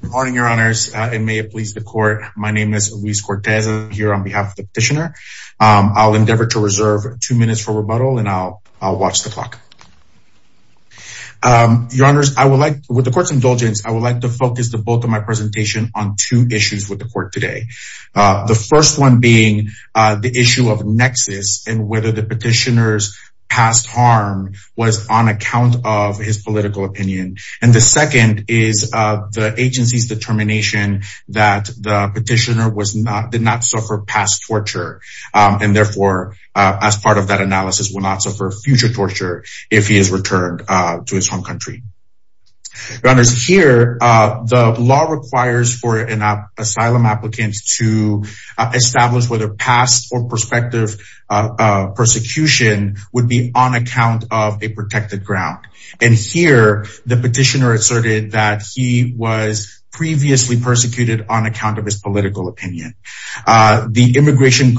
Good morning, your honors. It may please the court. My name is Luis Cortez here on behalf of the petitioner. I'll endeavor to reserve two minutes for rebuttal and I'll watch the clock. Your honors, I would like, with the court's indulgence, I would like to focus the bulk of my presentation on two issues with the court today. The first one being the issue of nexus and whether the petitioner's past harm was on account of his political opinion. And the second is the agency's determination that the petitioner did not suffer past torture and therefore, as part of that analysis, will not suffer future torture if he is returned to his home country. Your honors, here, the law requires for an asylum applicant to establish whether past or prospective persecution would be on account of a protected ground. And here, the petitioner asserted that he was previously persecuted on account of his political opinion. The immigration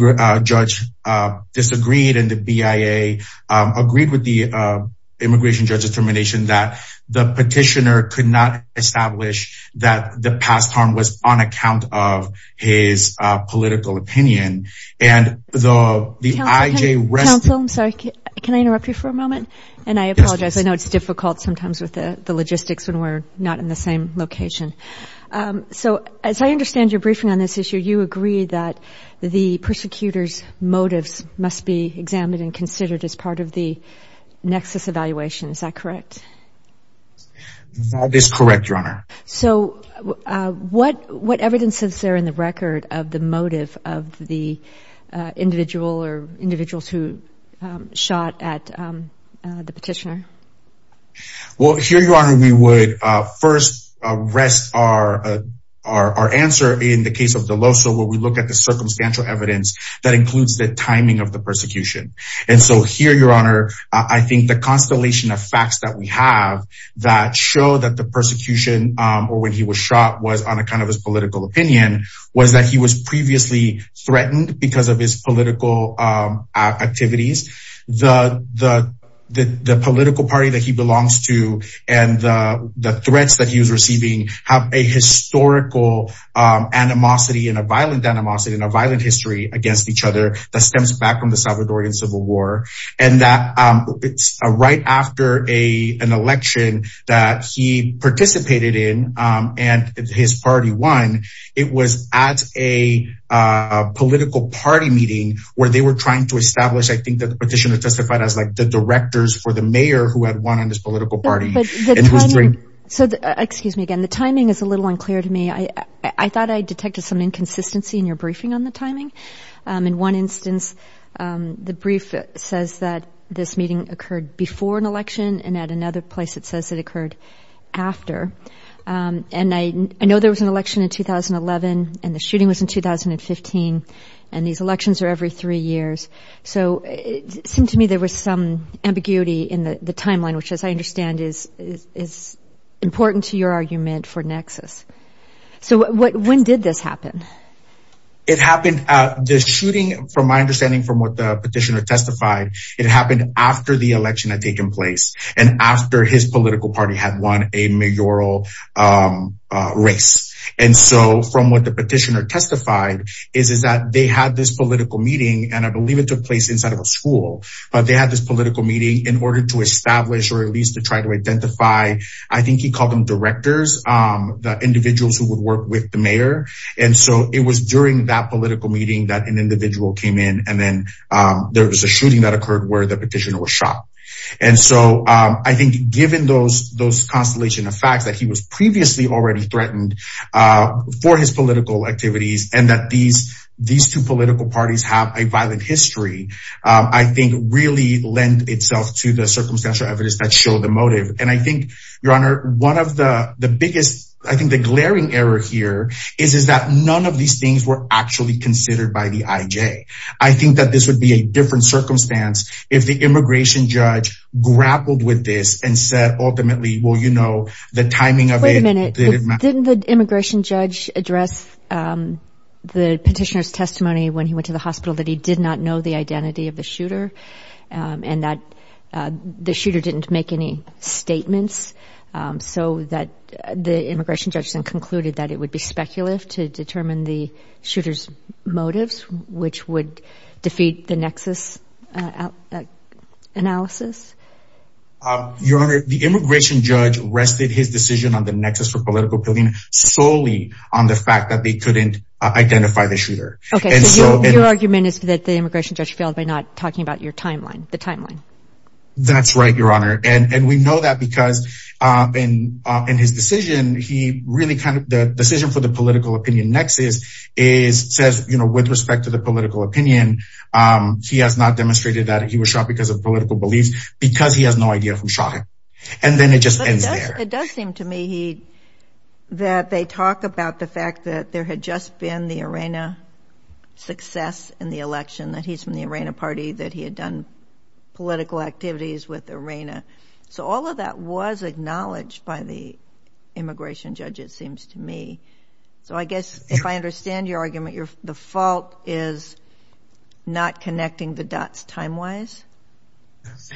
judge disagreed and the BIA agreed with the immigration judge's determination that the petitioner could not be prosecuted. Can I interrupt you for a moment? And I apologize. I know it's difficult sometimes with the logistics when we're not in the same location. So, as I understand your briefing on this issue, you agree that the persecutor's motives must be examined and considered as part of the nexus evaluation. Is that correct? That is correct, your honor. So, what evidence is there in the record of the motive of the individual or individuals who shot at the petitioner? Well, here, your honor, we would first rest our answer in the case of Deloso, where we look at the circumstantial evidence that includes the timing of the persecution. And so here, your honor, I think the constellation of facts that we have that show that the persecution or when he was shot was on account of his political opinion was that he was previously threatened because of his political activities. The political party that he belongs to and the threats that he was receiving have a historical animosity and a violent animosity and a violent history against each other that stems back from the Salvadoran Civil War. And that right after an election that he participated in and his party won, it was at a political party meeting where they were trying to establish, I think that the petitioner testified as like the directors for the mayor who had won on this political party. So, excuse me again, the timing is a little unclear to me. I thought I detected some inconsistency in your briefing on the timing. In one instance, the brief says that this meeting occurred before an election and at another place it says it occurred after. And I know there was an election in 2011 and the shooting was in 2015 and these elections are every three years. So, it seemed to me there was some ambiguity in the timeline, which as I understand is important to your argument for nexus. So, when did this happen? It happened at the shooting from my understanding from what the petitioner testified. It happened after the election had taken place and after his political party had won a mayoral race. And so, from what the petitioner testified is that they had this political meeting and I believe it took place inside of a school. But they had this political meeting in order to establish or at least to try to identify, I think he called them directors, the individuals who would work with the mayor. And so, it was during that political meeting that an individual came in and then there was a shooting that occurred where the petitioner was shot. And so, I think given those constellation of facts that he was previously already threatened for his political activities and that these two political parties have a violent history, I think really lend itself to the circumstantial evidence that show the motive. And I think, your honor, one of the biggest, I think the glaring error here is that none of these things were actually considered by the IJ. I think that this would be a different circumstance if the immigration judge grappled with this and said ultimately, well, you know, the timing of it. Wait a minute, didn't the immigration judge address the petitioner's testimony when he went to the hospital that he did not know the identity of the shooter and that the shooter didn't make any statements so that the immigration judge then concluded that it would be speculative to determine the shooter's motives which would Your honor, the immigration judge rested his decision on the nexus for political opinion solely on the fact that they couldn't identify the shooter. Okay, so your argument is that the immigration judge failed by not talking about your timeline, the timeline. That's right, your honor. And we know that because in his decision, he really kind of, the decision for the political opinion nexus is, says, you know, with respect to the political opinion, he has not demonstrated that he was shot because of political beliefs because he has no idea who shot him. And then it just ends there. It does seem to me that they talk about the fact that there had just been the ARENA success in the election, that he's from the ARENA party, that he had done political activities with ARENA. So all of that was acknowledged by the immigration judge it seems to me. So I guess if I understand your argument, the fault is not connecting the dots time-wise?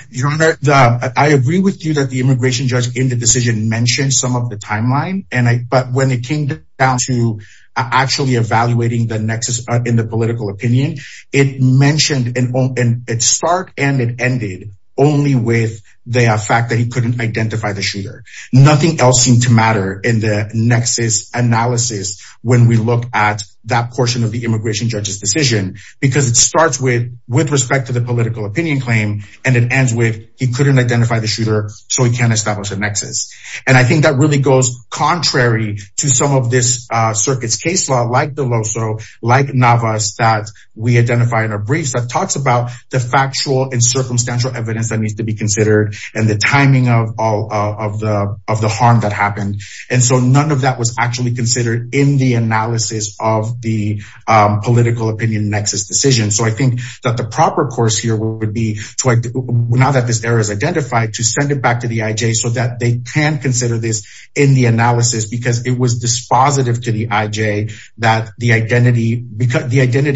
Your honor, I agree with you that the immigration judge in the decision mentioned some of the timeline, but when it came down to actually evaluating the nexus in the political opinion, it mentioned and it start and it ended only with the fact that he couldn't identify the shooter. Nothing else seemed to matter in the nexus analysis when we look at that portion of the immigration judge's decision, because it starts with respect to the political opinion claim, and it ends with he couldn't identify the shooter, so he can't establish a nexus. And I think that really goes contrary to some of this circuit's case law, like the LOSO, like NAVAS that we identify in our briefs that talks about the factual and circumstantial evidence that needs to be considered, and the timing of all of the harm that happened. And so none of that was actually considered in the analysis of the political opinion nexus decision. So I think that the proper course here would be to, now that this error is identified, to send it back to the IJ so that they can consider this in the analysis, because it was dispositive to the IJ that the identity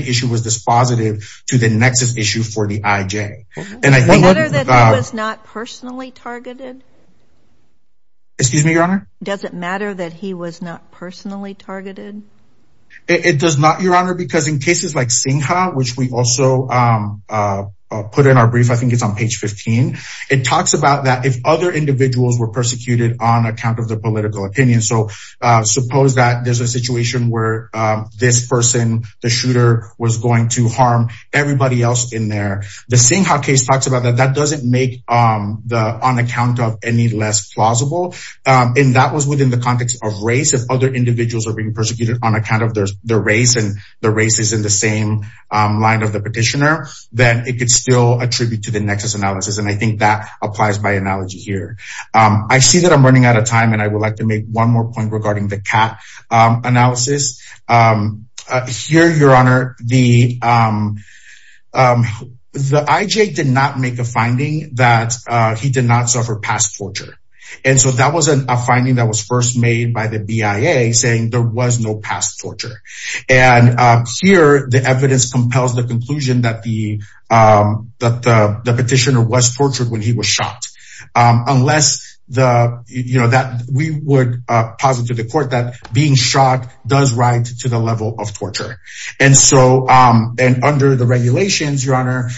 issue was dispositive to the nexus issue for the IJ. Does it matter that he was not personally targeted? Excuse me, Your Honor? Does it matter that he was not personally targeted? It does not, Your Honor, because in cases like Singha, which we also put in our brief, I think it's on page 15, it talks about that if other individuals were persecuted on account of the political opinion. So suppose that there's a situation where this person, the shooter, was going to harm everybody else in there. The Singha case talks about that. That doesn't make on account of any less plausible. And that was within the context of race. If other individuals are being persecuted on account of their race, and the race is in the same line of the petitioner, then it could still attribute to the nexus analysis. And I think that applies by analogy here. I see that I'm running out of time, and I would like to make one more point regarding the IJ. Here, Your Honor, the IJ did not make a finding that he did not suffer past torture. And so that was a finding that was first made by the BIA saying there was no past torture. And here, the evidence compels the conclusion that the petitioner was tortured when he was shot, unless we would posit to the court that being shot does ride to the level of torture. And so under the regulations, Your Honor,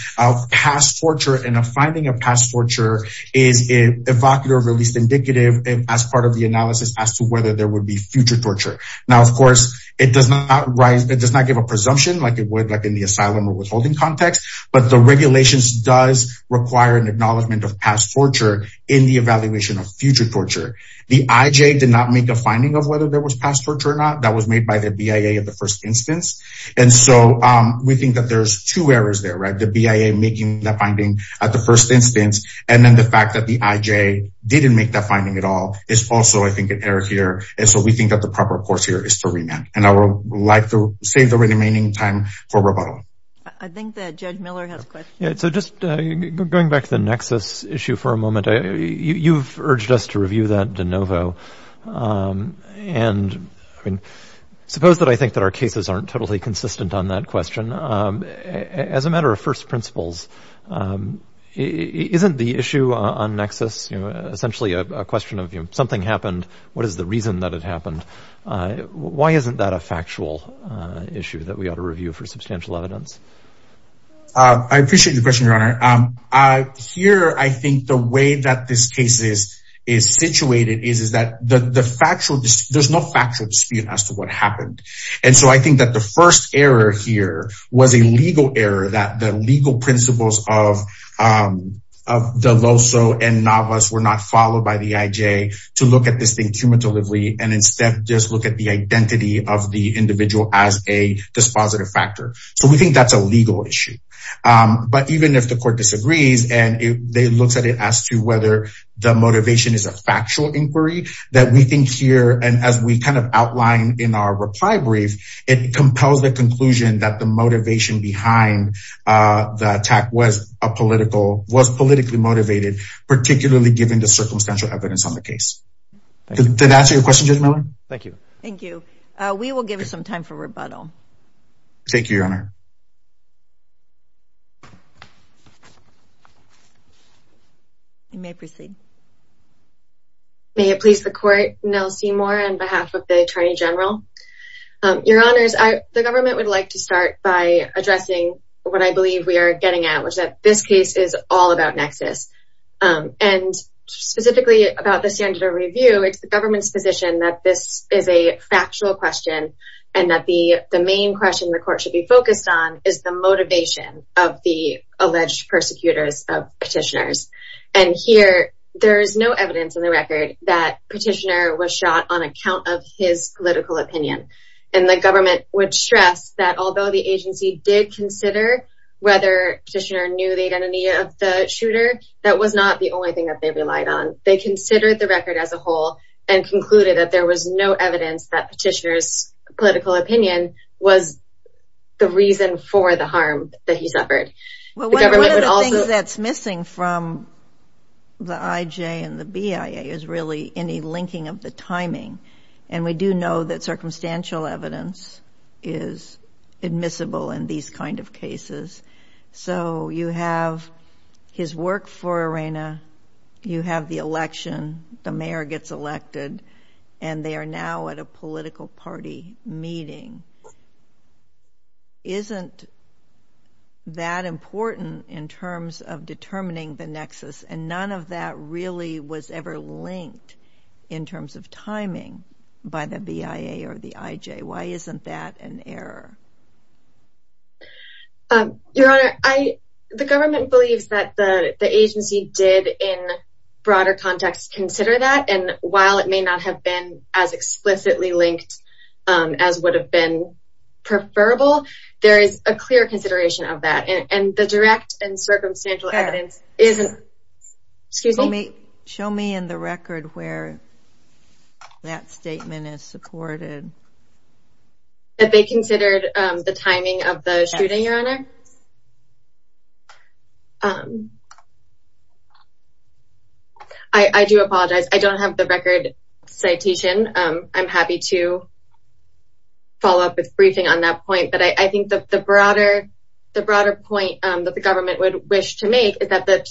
past torture and a finding of past torture is evocative or at least indicative as part of the analysis as to whether there would be future torture. Now, of course, it does not give a presumption like it would like in the asylum withholding context. But the regulations does require an acknowledgement of past torture in the evaluation of future torture. The IJ did not make a finding of whether there was past torture or not. That was made by the BIA in the first instance. And so we think that there's two errors there, right? The BIA making the finding at the first instance, and then the fact that the IJ didn't make that finding at all is also, I think, an error here. And so we think that the proper course here is to remand. And I would like to save the remaining time for rebuttal. I think that Judge Miller has a question. Yeah. So just going back to the nexus issue for a moment, you've urged us to review that de novo. And I mean, suppose that I think that our cases aren't totally consistent on that question. As a matter of first principles, isn't the issue on nexus essentially a question of something happened? What is the reason that it happened? Why isn't that a factual issue that we ought to address? I appreciate your question, Your Honor. Here, I think the way that this case is situated is that there's no factual dispute as to what happened. And so I think that the first error here was a legal error that the legal principles of Deloso and Navas were not followed by the IJ to look at this thing cumulatively and instead just look at the identity of the individual as a dispositive factor. So we think that's a legal issue. But even if the court disagrees, and it looks at it as to whether the motivation is a factual inquiry, that we think here, and as we kind of outline in our reply brief, it compels the conclusion that the motivation behind the attack was politically motivated, particularly given the circumstantial evidence on the case. Did that answer your question, Judge Miller? Thank you. Thank you. We will give you some time for rebuttal. Thank you, Your Honor. You may proceed. May it please the Court, Nell Seymour, on behalf of the Attorney General. Your Honors, the government would like to start by addressing what I believe we are getting at, which is that this case is all about nexus. And specifically about the standard of review, it's the government's position that this is a factual question, and that the main question the court should be focused on is the motivation of the alleged persecutors of petitioners. And here, there's no evidence in the record that petitioner was shot on account of his political opinion. And the government would stress that although the agency did consider whether petitioner knew the identity of the shooter, that was not the only thing that they relied on. They considered the record as a whole and concluded that there was no evidence that petitioner's political opinion was the reason for the harm that he suffered. The government would also— One of the things that's missing from the IJ and the BIA is really any linking of the timing. And we do know that circumstantial evidence is admissible in these kind of cases. So you have his work for ARENA, you have the election, the mayor gets elected, and they are now at a political party meeting. Isn't that important in terms of determining the nexus? And none of that really was ever linked in terms of timing by the BIA or the IJ. Why isn't that an error? Your Honor, the government believes that the agency did, in broader context, consider that. And while it may not have been as explicitly linked as would have been preferable, there is a clear consideration of that. And the direct and circumstantial evidence isn't— Show me in the record where that statement is supported. That they considered the timing of the shooting, Your Honor? I do apologize. I don't have the record citation. I'm happy to follow up with briefing on that point. But I think that the broader point that the government would wish to make is that the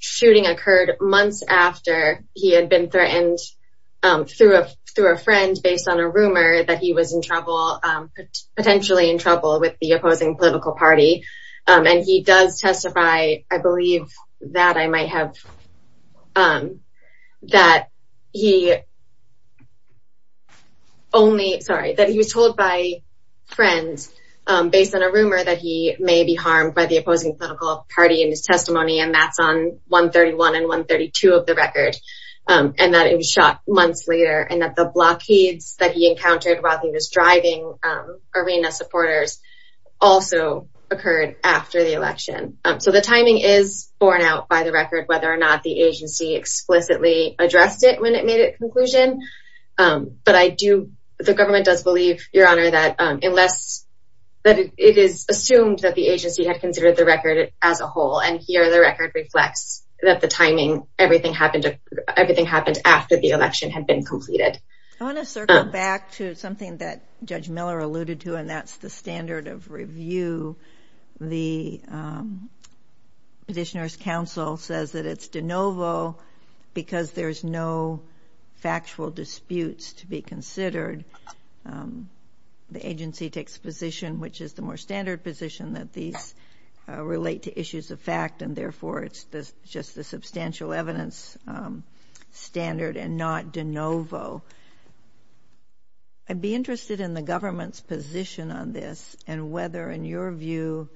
shooting occurred months after he had been threatened through a friend based on a rumor that he was potentially in trouble with the opposing political party. And he does testify, I believe, that he was told by friends based on a rumor that he may be harmed by the opposing party in his testimony. And that's on 131 and 132 of the record. And that it was shot months later. And that the blockades that he encountered while he was driving arena supporters also occurred after the election. So the timing is borne out by the record, whether or not the agency explicitly addressed it when it made a conclusion. But I do, the government does believe, Your Honor, that that it is assumed that the agency had considered the record as a whole. And here the record reflects that the timing, everything happened after the election had been completed. I want to circle back to something that Judge Miller alluded to, and that's the standard of review. The Petitioner's Council says that it's de novo because there's no factual disputes to be considered. The agency takes a position, which is the more standard position, that these relate to issues of fact and therefore it's just the substantial evidence standard and not de novo. I'd be interested in the government's position on this and whether, in your view,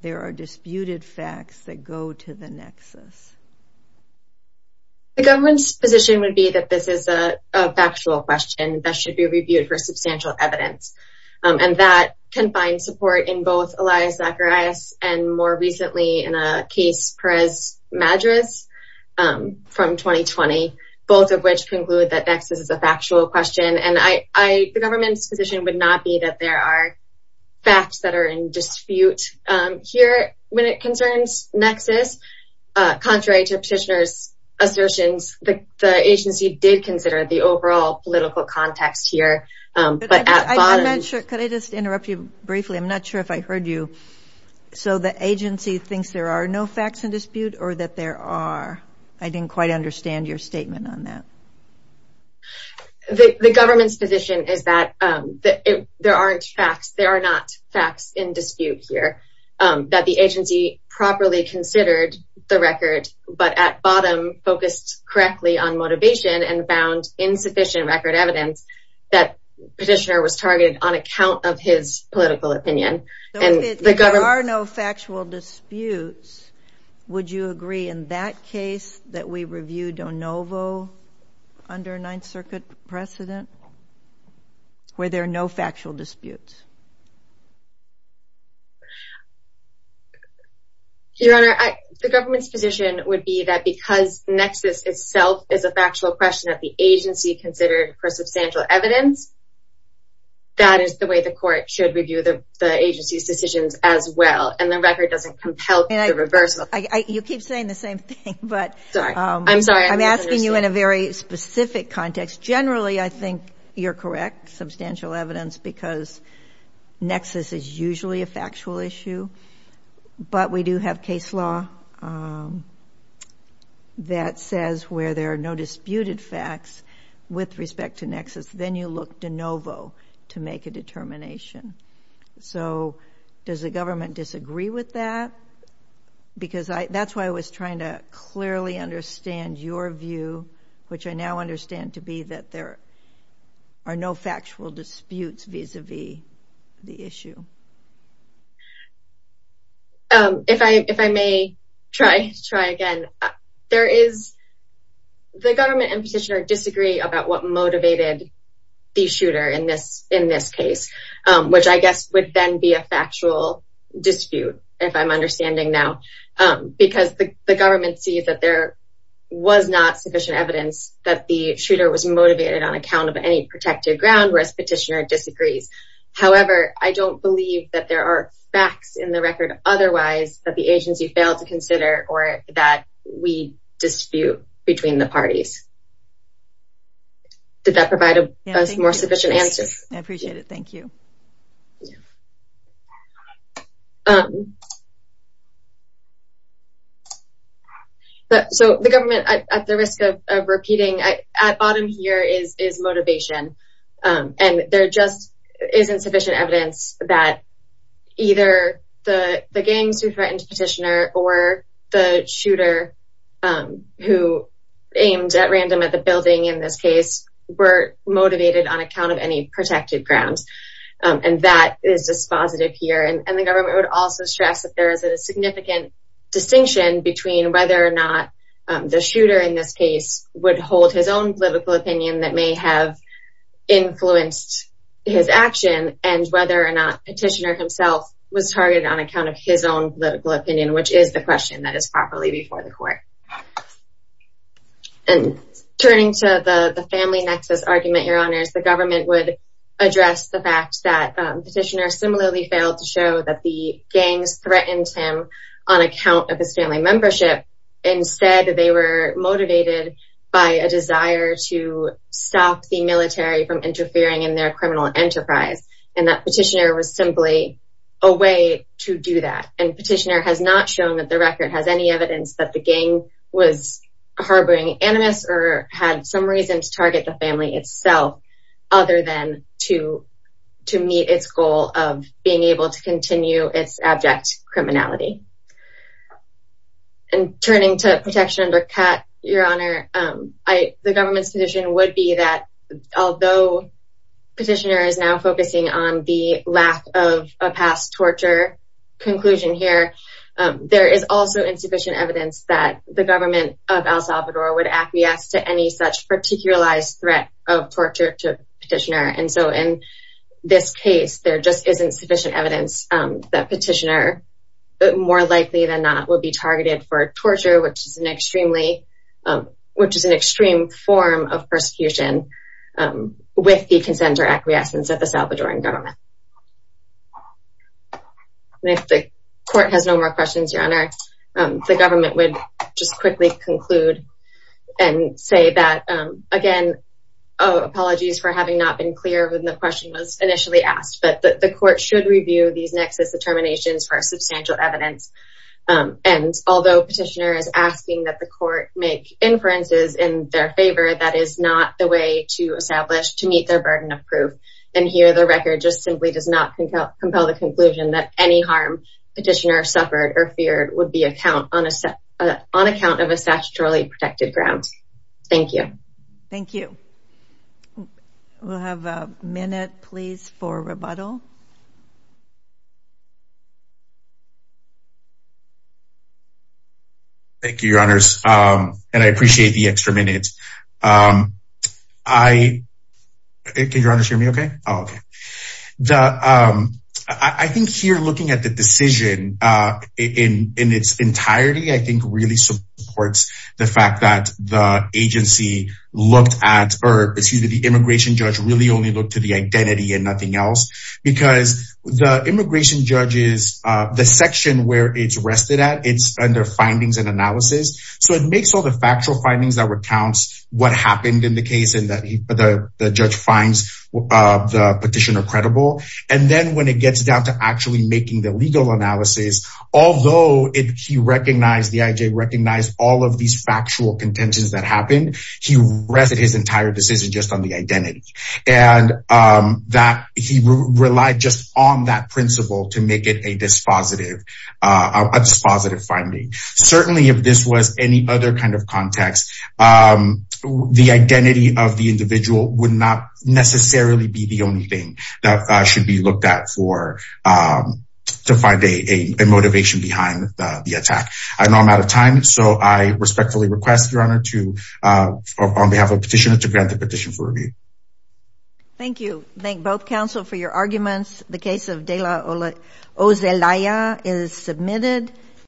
there are disputed facts that go to the nexus. The government's position would be that this is a factual question that should be reviewed for substantial evidence. And that can find support in both Elias Zacharias and more recently in a case Perez Madras from 2020, both of which conclude that nexus is a factual question. And the government's position would not be that there are facts that are in dispute here when it concerns nexus. Contrary to Petitioner's assertions, the agency did consider the overall political context here. But at bottom... I'm not sure, could I just interrupt you briefly? I'm not sure if I heard you. So the agency thinks there are no facts in dispute or that there are? I didn't quite understand your statement on that. The government's position is that there aren't facts, there are not facts in dispute here that the agency properly considered the record, but at bottom focused correctly on motivation and found insufficient record evidence that Petitioner was targeted on account of his political opinion. And the government... If there are no factual disputes, would you agree in that case that we review de novo under Ninth Circuit precedent where there are no factual disputes? Your Honor, the government's position would be that because nexus itself is a factual question that the agency considered for substantial evidence, that is the way the court should review the agency's decisions as well. And the record doesn't compel the reversal. You keep saying the same thing, but I'm sorry. I'm asking you in a very specific context. Generally, I think you're correct. Substantial evidence because nexus is usually a factual issue, but we do have case law that says where there are no disputed facts with respect to nexus, then you look de novo to make a determination. So does the government disagree with that? Because that's why I was trying to clearly understand your view, which I now understand to be that there are no factual disputes vis-a-vis the issue. If I may try again, there is... The government and Petitioner disagree about what motivated the shooter in this case, which I guess would then be a factual dispute, if I'm understanding now, because the government sees that there was not sufficient evidence that the shooter was motivated on account of any protected ground, whereas Petitioner disagrees. However, I don't believe that there are facts in the record otherwise that the agency failed to consider or that we dispute between the parties. Did that provide a more sufficient answer? I appreciate it. Thank you. So the government, at the risk of repeating, at bottom here is motivation. And there just isn't sufficient evidence that either the gangs who threatened Petitioner or the shooter who aimed at random at the building in this case were motivated on account of any protected ground. And that is dispositive here. And the government would also stress that there is a significant distinction between whether or not the shooter in this case would hold his own political opinion that may have influenced his action and whether or not Petitioner himself was targeted on account of his own political opinion, which is the question that is properly before the court. And turning to the family nexus argument, Your Honors, the government would address the fact that Petitioner similarly failed to show that the gangs threatened him on account of his family membership. Instead, they were motivated by a desire to stop the military from interfering in their criminal enterprise. And that Petitioner was simply a way to do that. And Petitioner has not shown that the record has any evidence that the gang was harboring animus or had some reason to target the family itself other than to meet its goal of being able to continue its abject criminality. And turning to protection under cut, Your Honor, the government's position would be that although Petitioner is now focusing on the lack of a past torture conclusion here, there is also insufficient evidence that the government of El Salvador would acquiesce to any such particularized threat of torture to Petitioner. And so in this case, there just isn't sufficient evidence that Petitioner, more likely than not, would be targeted for torture, which is an extreme form of persecution with the consent or acquiescence of the Salvadoran government. And if the court has no more questions, Your Honor, the government would just quickly conclude and say that, again, apologies for having not been clear when the question was initially asked, but the court should review these nexus determinations for substantial evidence. And although Petitioner is asking that the court make inferences in their favor, that is not the way to establish to meet their burden of proof. And here the record just simply does not compel the conclusion that any harm Petitioner suffered or feared would be a on account of a statutorily protected ground. Thank you. Thank you. We'll have a minute, please, for rebuttal. Thank you, Your Honors. And I appreciate the extra minute. Can Your Honors hear me okay? Okay. I think here, looking at the decision in its entirety, I think really supports the fact that the agency looked at, or excuse me, the immigration judge really only looked to the identity and nothing else. Because the immigration judge is, the section where it's arrested at, it's under findings and analysis. So it makes all the factual findings that recounts what happened in the case and that the judge finds the Petitioner credible. And then when it gets down to actually making the legal analysis, although he recognized, the IJ recognized, all of these factual contentions that happened, he rested his entire decision just on the identity. And that he relied just on that principle to make it a dispositive, a dispositive finding. Certainly, if this was any other kind of context, the identity of the individual would not necessarily be the only thing that should be looked at for, to find a motivation behind the attack. I know I'm out of time. So I respectfully request, Your Honor, to, on behalf of Petitioner, to grant the petition for review. Thank you. Thank both counsel for your arguments. The case of Dela Ozelaya is submitted.